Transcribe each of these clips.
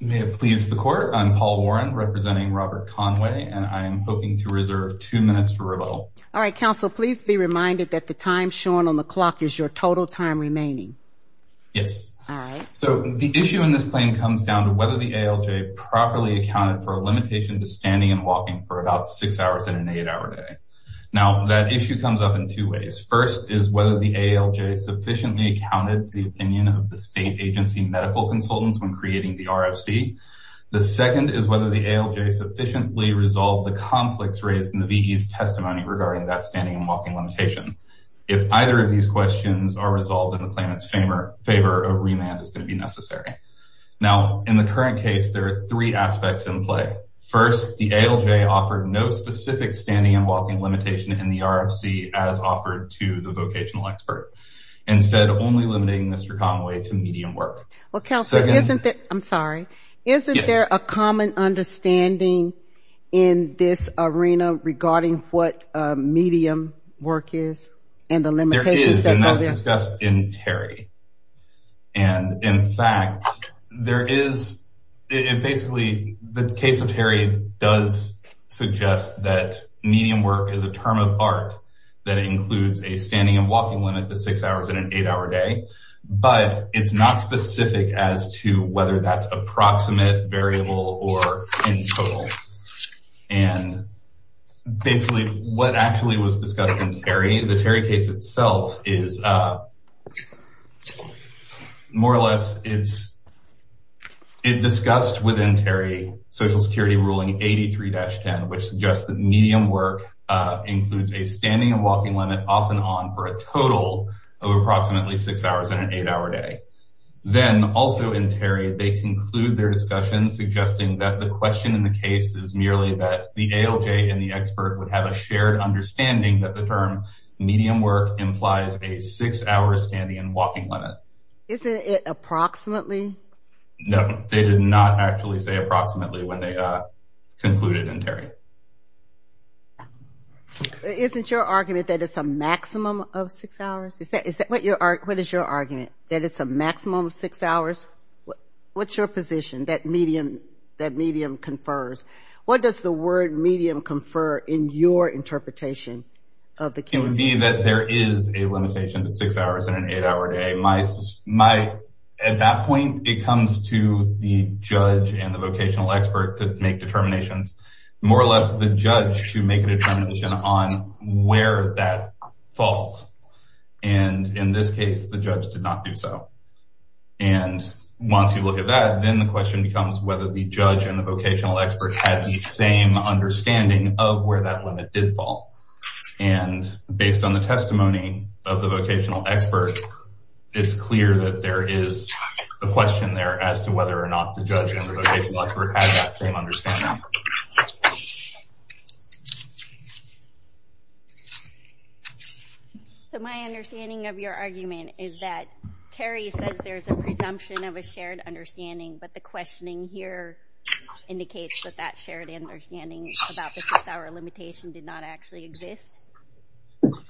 May it please the court I'm Paul Warren representing Robert Conway and I am hoping to reserve two minutes for rebuttal. All right counsel please be reminded that the time shown on the clock is your total time remaining. Yes so the issue in this claim comes down to whether the ALJ properly accounted for a limitation to standing and walking for about six hours in an eight-hour day. Now that issue comes up in two ways first is whether the ALJ sufficiently accounted the opinion of the state agency medical consultants when creating the RFC. The second is whether the ALJ sufficiently resolved the conflicts raised in the VE's testimony regarding that standing and walking limitation. If either of these questions are resolved in the claimant's favor a remand is going to be necessary. Now in the current case there are three aspects in play. First the ALJ offered no specific standing and walking limitation in the RFC as offered to the Mr. Conway to medium work. Well counsel isn't that I'm sorry isn't there a common understanding in this arena regarding what medium work is and the limitations. There is and that's discussed in Terry and in fact there is it basically the case of Terry does suggest that medium work is a term of art that includes a standing and walking limit to six hours in an eight-hour day but it's not specific as to whether that's approximate variable or in total and basically what actually was discussed in Terry the Terry case itself is more or less it's it discussed within Terry Social Security ruling 83-10 which suggests that medium work includes a total of approximately six hours in an eight-hour day. Then also in Terry they conclude their discussion suggesting that the question in the case is merely that the ALJ and the expert would have a shared understanding that the term medium work implies a six-hour standing and walking limit. Isn't it approximately? No they did not actually say approximately when they concluded in six hours is that is that what you are what is your argument that it's a maximum six hours what's your position that medium that medium confers what does the word medium confer in your interpretation of the case? It would be that there is a limitation to six hours in an eight-hour day. At that point it comes to the judge and the vocational expert to make determinations more or less the judge to where that falls and in this case the judge did not do so and once you look at that then the question becomes whether the judge and the vocational expert has the same understanding of where that limit did fall and based on the testimony of the vocational expert it's clear that there is a question there as to whether or not the judge and the vocational expert has that same understanding. So my understanding of your argument is that Terry says there's a presumption of a shared understanding but the questioning here indicates that that shared understanding about the six-hour limitation did not actually exist?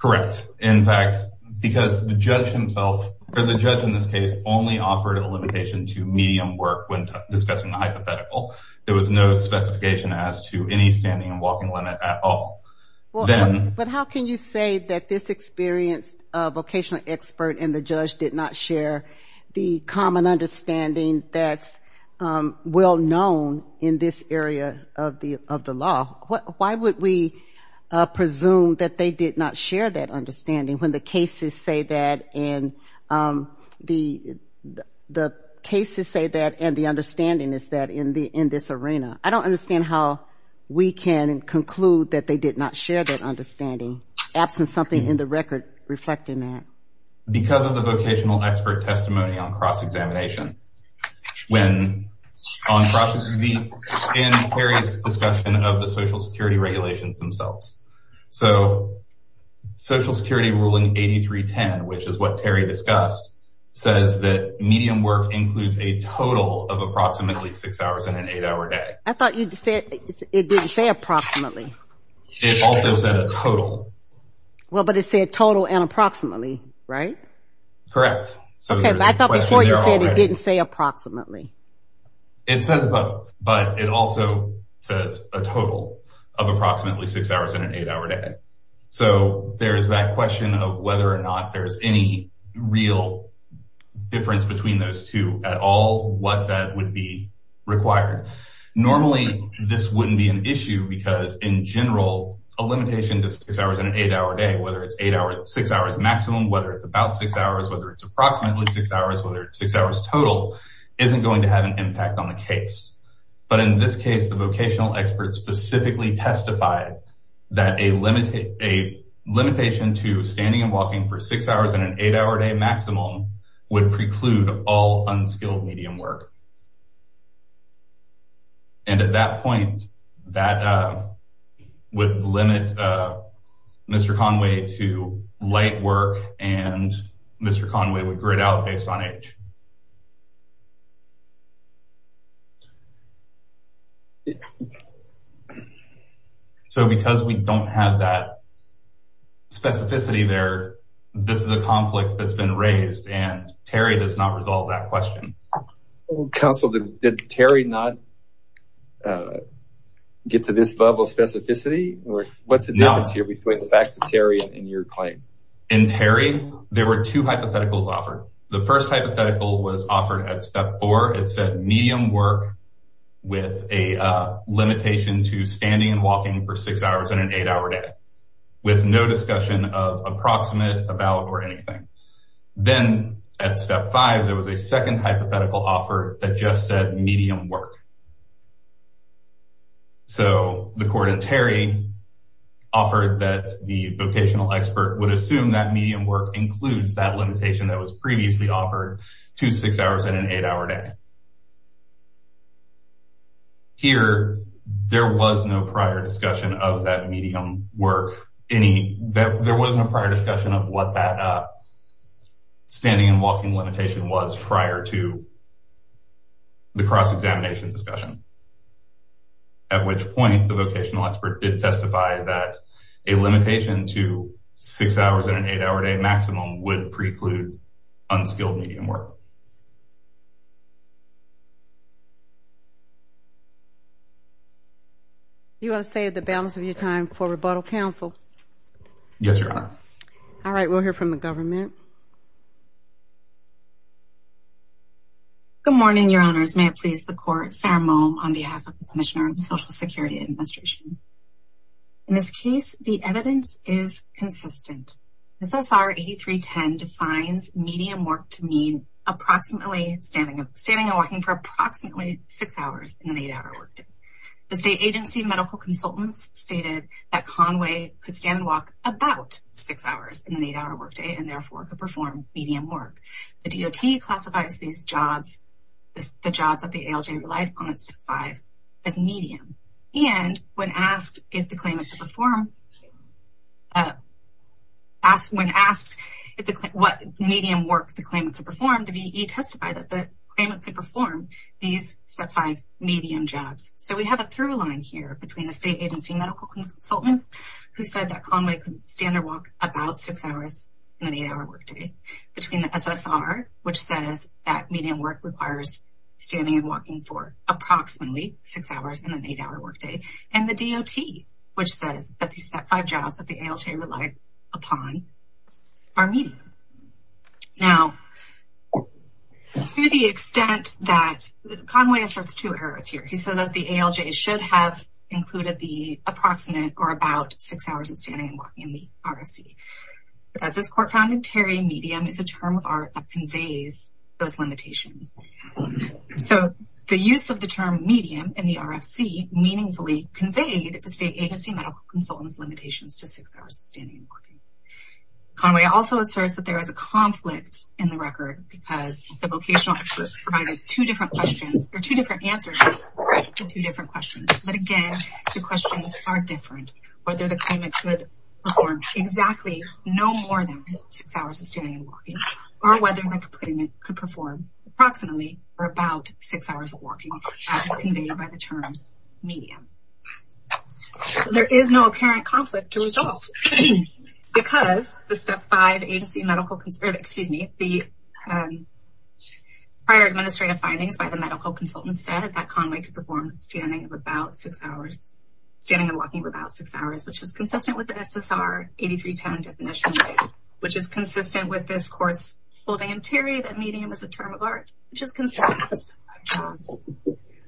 Correct in fact because the judge himself or the judge in this case only offered a limitation to medium work when discussing the hypothetical. There was no specification as to any standing and walking limit at all. But how can you say that this experienced vocational expert and the judge did not share the common understanding that's well known in this area of the of the law? Why would we presume that they did not share that understanding when the cases say that and the the case to say that and the understanding is that in the in this arena? I don't understand how we can conclude that they did not share that understanding absent something in the record reflecting that. Because of the vocational expert testimony on cross-examination when on process in various discussion of the Social Security regulations themselves. So Social Security what Terry discussed says that medium work includes a total of approximately six hours in an eight-hour day. I thought you said it didn't say approximately. It also said a total. Well but it said total and approximately right? Correct. So I thought before you said it didn't say approximately. It says but it also says a total of approximately six hours in an eight-hour day. So there's that question of whether or not there's any real difference between those two at all. What that would be required. Normally this wouldn't be an issue because in general a limitation to six hours in an eight-hour day whether it's eight hours six hours maximum whether it's about six hours whether it's approximately six hours whether it's six hours total isn't going to have an impact on the case. But in this case the vocational expert specifically testified that a limitation to standing and walking for six hours in an eight-hour day maximum would preclude all unskilled medium work. And at that point that would limit Mr. Conway to light work and Mr. Conway would grid out based on age. So because we don't have that specificity there this is a conflict that's been raised and Terry does not resolve that question. Counsel did Terry not get to this level of specificity or what's the difference here between the facts of Terry and your claim? In Terry there were two hypotheticals offered. The first hypothetical was offered at step four it said medium work with a limitation to standing and walking for six hours in an eight-hour day with no discussion of approximate about or anything. Then at step five there was a second hypothetical offered that just said medium work. So the court in Terry offered that the vocational expert would that was previously offered to six hours in an eight-hour day. Here there was no prior discussion of that medium work any that there wasn't a prior discussion of what that standing and walking limitation was prior to the cross examination discussion. At which point the vocational expert did testify that a unskilled medium work. You want to save the balance of your time for rebuttal counsel? Yes your honor. All right we'll hear from the government. Good morning your honors may it please the court Sarah Moe on behalf of the commissioner of the Social Security Administration. In this case the evidence is consistent. SSR 8310 defines medium work to mean approximately standing standing and walking for approximately six hours in an eight-hour workday. The state agency medical consultants stated that Conway could stand and walk about six hours in an eight-hour workday and therefore could perform medium work. The DOT classifies these jobs the jobs that the ALJ relied on at step five as medium and when asked if the claimant could perform, when asked what medium work the claimant could perform, the VE testified that the claimant could perform these step five medium jobs. So we have a through line here between the state agency medical consultants who said that Conway could stand or walk about six hours in an eight-hour workday. Between the SSR which says that medium work requires standing and walking for approximately six hours in an eight-hour workday and the DOT which says that these step five jobs that the ALJ relied upon are medium. Now to the extent that Conway asserts two errors here he said that the ALJ should have included the approximate or about six hours of standing and walking in the RFC. As this court found in Terry medium is a term of art that conveys those limitations. So the use of the term medium in the RFC meaningfully conveyed the state agency medical consultants limitations to six hours of standing and walking. Conway also asserts that there is a conflict in the record because the vocational experts provided two different questions or two different answers to two different questions. But again the questions are different whether the claimant could perform exactly no more than six hours of standing and walking or whether the claimant could perform approximately or about six hours of term medium. There is no apparent conflict to resolve because the step five agency medical, excuse me, the prior administrative findings by the medical consultant said that Conway could perform standing of about six hours standing and walking for about six hours which is consistent with the SSR 8310 definition which is consistent with this course holding in Terry that medium is a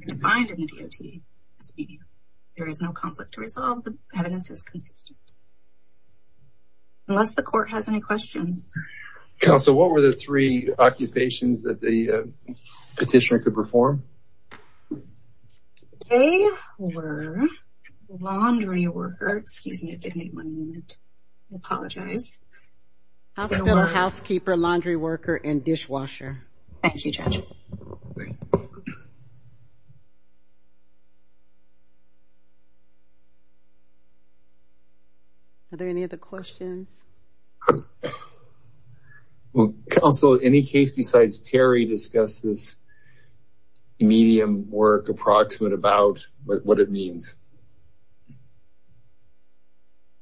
defined in the DOT. There is no conflict to resolve. The evidence is consistent. Unless the court has any questions. Counsel, what were the three occupations that the petitioner could perform? They were laundry worker, excuse me, give me one minute. I apologize. Housekeeper, laundry worker, and dishwasher. Thank you, Judge. Are there any other questions? Counsel, any case besides Terry discuss this medium work approximate about what it means?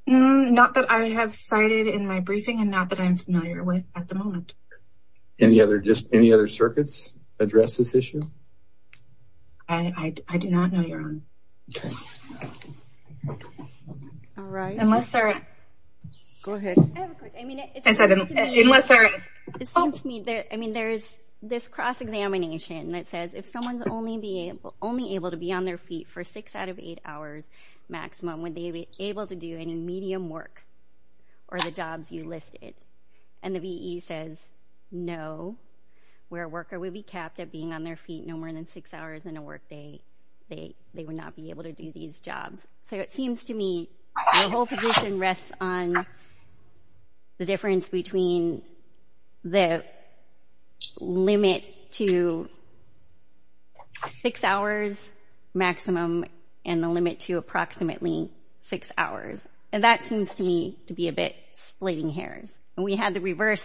Not that I have cited in my briefing and not that I'm familiar with at the moment. Any other just any other circuits address this issue? I do not know your own. All right. Unless there is this cross-examination that says if someone's only able to be on their feet for six out of eight hours maximum, would they be able to do any medium work or the jobs you listed? And the VE says no, where a worker would be capped at being on their feet no more than six hours in a work day, they would not be able to do these jobs. So it seems to me the whole position rests on the difference between the limit to six hours maximum and the limit to approximately six hours. And that seems to me to be a bit splitting hairs. And we had the reverse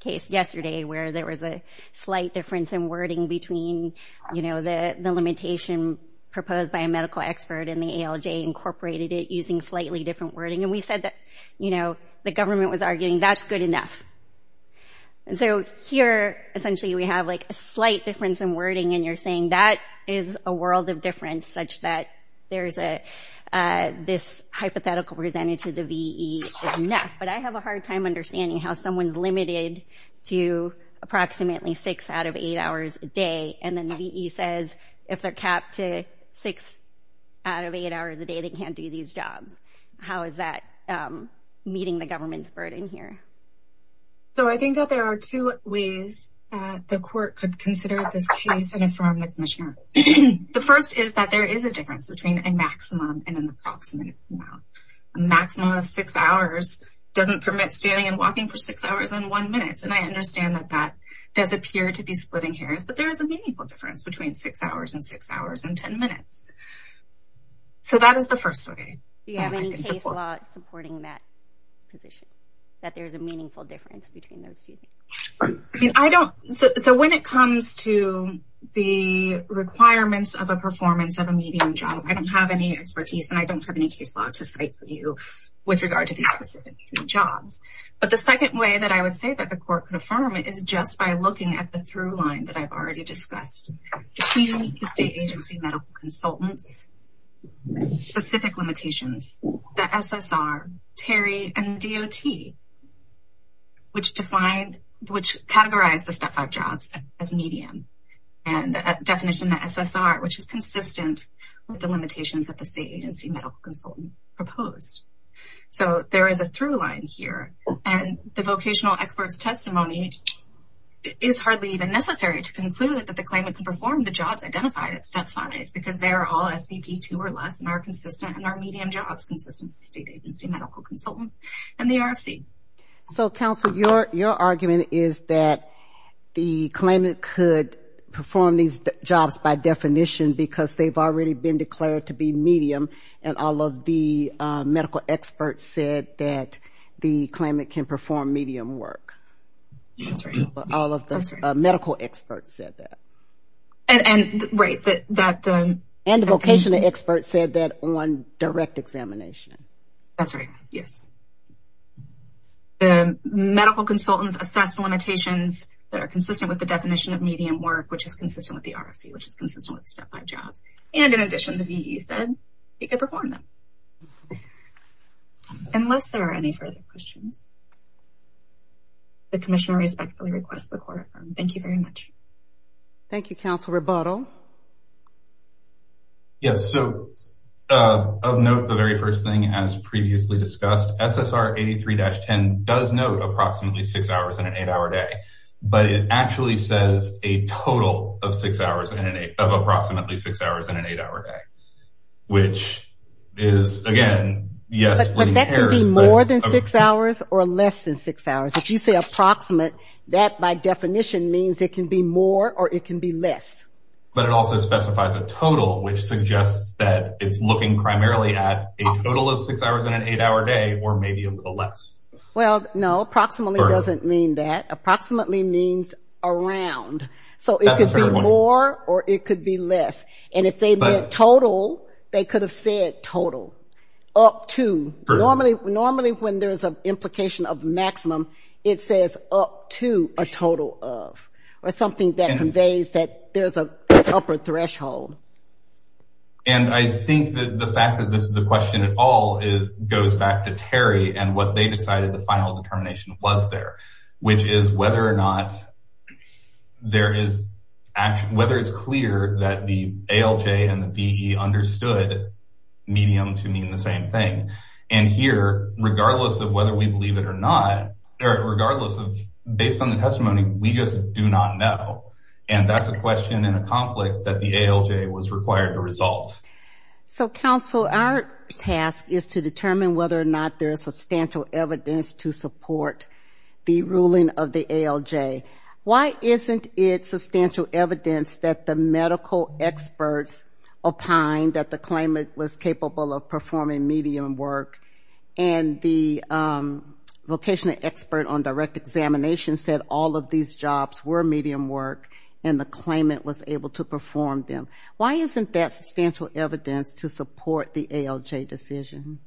case yesterday where there was a slight difference in wording between, you know, the limitation proposed by a medical expert and the ALJ incorporated it using slightly different wording. And we said that, you know, the government was arguing that's good enough. And so here essentially we have like a slight difference in wording and you're saying that is a world of difference such that there's a this hypothetical presented to the VE is enough. But I have a hard time understanding how someone's limited to approximately six out of eight hours a And the VE says if they're capped to six out of eight hours a day, they can't do these jobs. How is that meeting the government's burden here? So I think that there are two ways the court could consider this case and affirm the commissioner. The first is that there is a difference between a maximum and an approximate amount. A maximum of six hours doesn't permit standing and walking for six hours and one minute. And I understand that that does appear to be splitting hairs, but there is a meaningful difference between six hours and six hours and ten minutes. So that is the first way. Do you have any case law supporting that position? That there's a meaningful difference between those two things? I mean, I don't. So when it comes to the requirements of a performance of a medium job, I don't have any expertise and I don't have any case law to cite for you with regard to these specific jobs. But the second way that I would say that the court could affirm it is just by looking at the through line that I've already discussed. Between the state agency medical consultants, specific limitations, the SSR, Terry, and DOT, which categorized the Step 5 jobs as medium and the definition the SSR, which is consistent with the limitations that the state agency medical consultant proposed. So there is a through line here and the vocational expert's testimony is hardly even necessary to conclude that the claimant can perform the jobs identified at Step 5 because they are all SVP 2 or less and are consistent and are medium jobs, consistent with the state agency medical consultants and the RFC. So counsel, your argument is that the claimant could perform these jobs by definition because they've already been declared to be medium and all of the medical experts said that the claimant can perform medium work. All of the medical experts said that. And the vocational experts said that on direct examination. That's right, yes. The medical consultants assessed the limitations that are consistent with the definition of medium work, which is consistent with the RFC, which is consistent with Step 5 jobs. And in Unless there are any further questions, the commissioner respectfully requests the quorum. Thank you very much. Thank you, counsel. Rebuttal. Yes. So of note, the very first thing, as previously discussed, SSR 83-10 does note approximately six hours in an eight hour day, but it actually says a total of six hours of approximately six hours in an eight hour day, which is again, yes. But that can be more than six hours or less than six hours. If you say approximate, that by definition means it can be more or it can be less. But it also specifies a total, which suggests that it's looking primarily at a total of six hours in an eight hour day or maybe a little less. Well, no, approximately doesn't mean that. Approximately means around. So it could be more or it could be less. And if they meant total, they could have said total, up to. Normally, when there's an implication of maximum, it says up to a total of, or something that conveys that there's an upper threshold. And I think that the fact that this is a question at all goes back to Terry and what they decided the final determination was there, which is whether or not there is whether it's clear that the ALJ and the VE understood medium to mean the same thing. And here, regardless of whether we believe it or not, or regardless of based on the testimony, we just do not know. And that's a question and a conflict that the ALJ was required to resolve. So, counsel, our task is to determine whether or not there is substantial evidence to support the substantial evidence that the medical experts opined that the claimant was capable of performing medium work. And the vocational expert on direct examination said all of these jobs were medium work, and the claimant was able to perform them. Why isn't that substantial evidence to support the ALJ decision?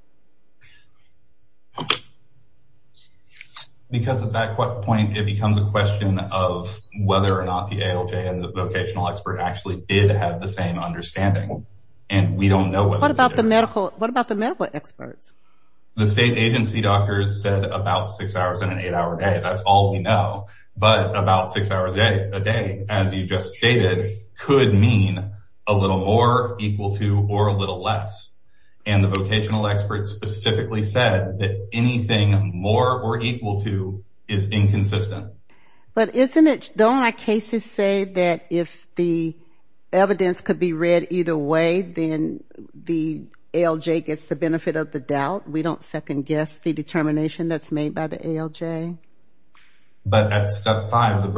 Because at that point, it becomes a question of whether or not the ALJ and the vocational expert actually did have the same understanding. And we don't know what about the medical? What about the medical experts? The state agency doctors said about six hours in an eight hour day, that's all we know. But about six hours a day, as you just stated, could mean a little more equal to or a little less. And the vocational experts specifically said that anything more or equal to is inconsistent. But isn't it, don't our cases say that if the evidence could be read either way, then the ALJ gets the benefit of the doubt. We don't second guess the determination that's made by the ALJ. But at step five, the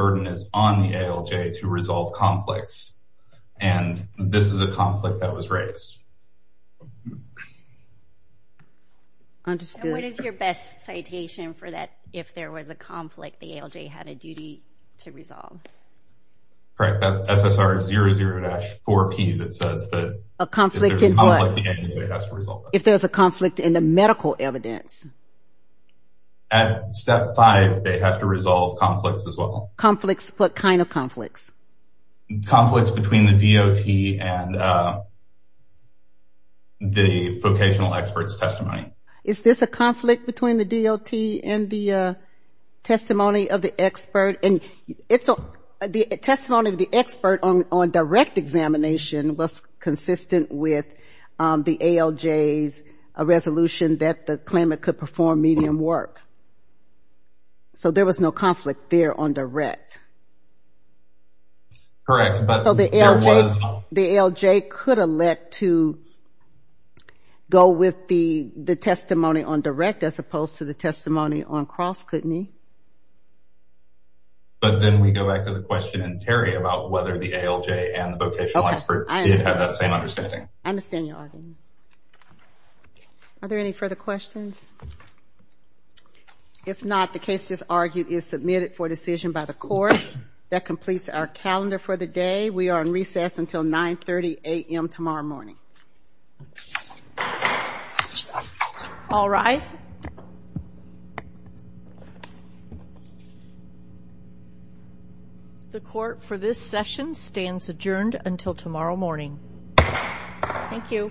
understood. What is your best citation for that? If there was a conflict, the ALJ had a duty to resolve. Correct, that SSR 00-4P that says that a conflict, if there's a conflict in the medical evidence. At step five, they have to resolve conflicts as well. Conflicts, what kind of conflicts? Conflicts between the vocational experts testimony. Is this a conflict between the DLT and the testimony of the expert? And it's the testimony of the expert on direct examination was consistent with the ALJ's resolution that the claimant could perform medium work. So there was no conflict there on direct. Correct, but the ALJ could elect to go with the testimony on direct as opposed to the testimony on cross kidney. But then we go back to the question in Terry about whether the ALJ and the vocational experts did have that same understanding. I understand your argument. Are there any further questions? If not, the case just argued is submitted for decision by the court. That completes our calendar for the day. We are in recess until 930 a.m. tomorrow morning. All rise. The court for this session stands adjourned until tomorrow morning. Thank you.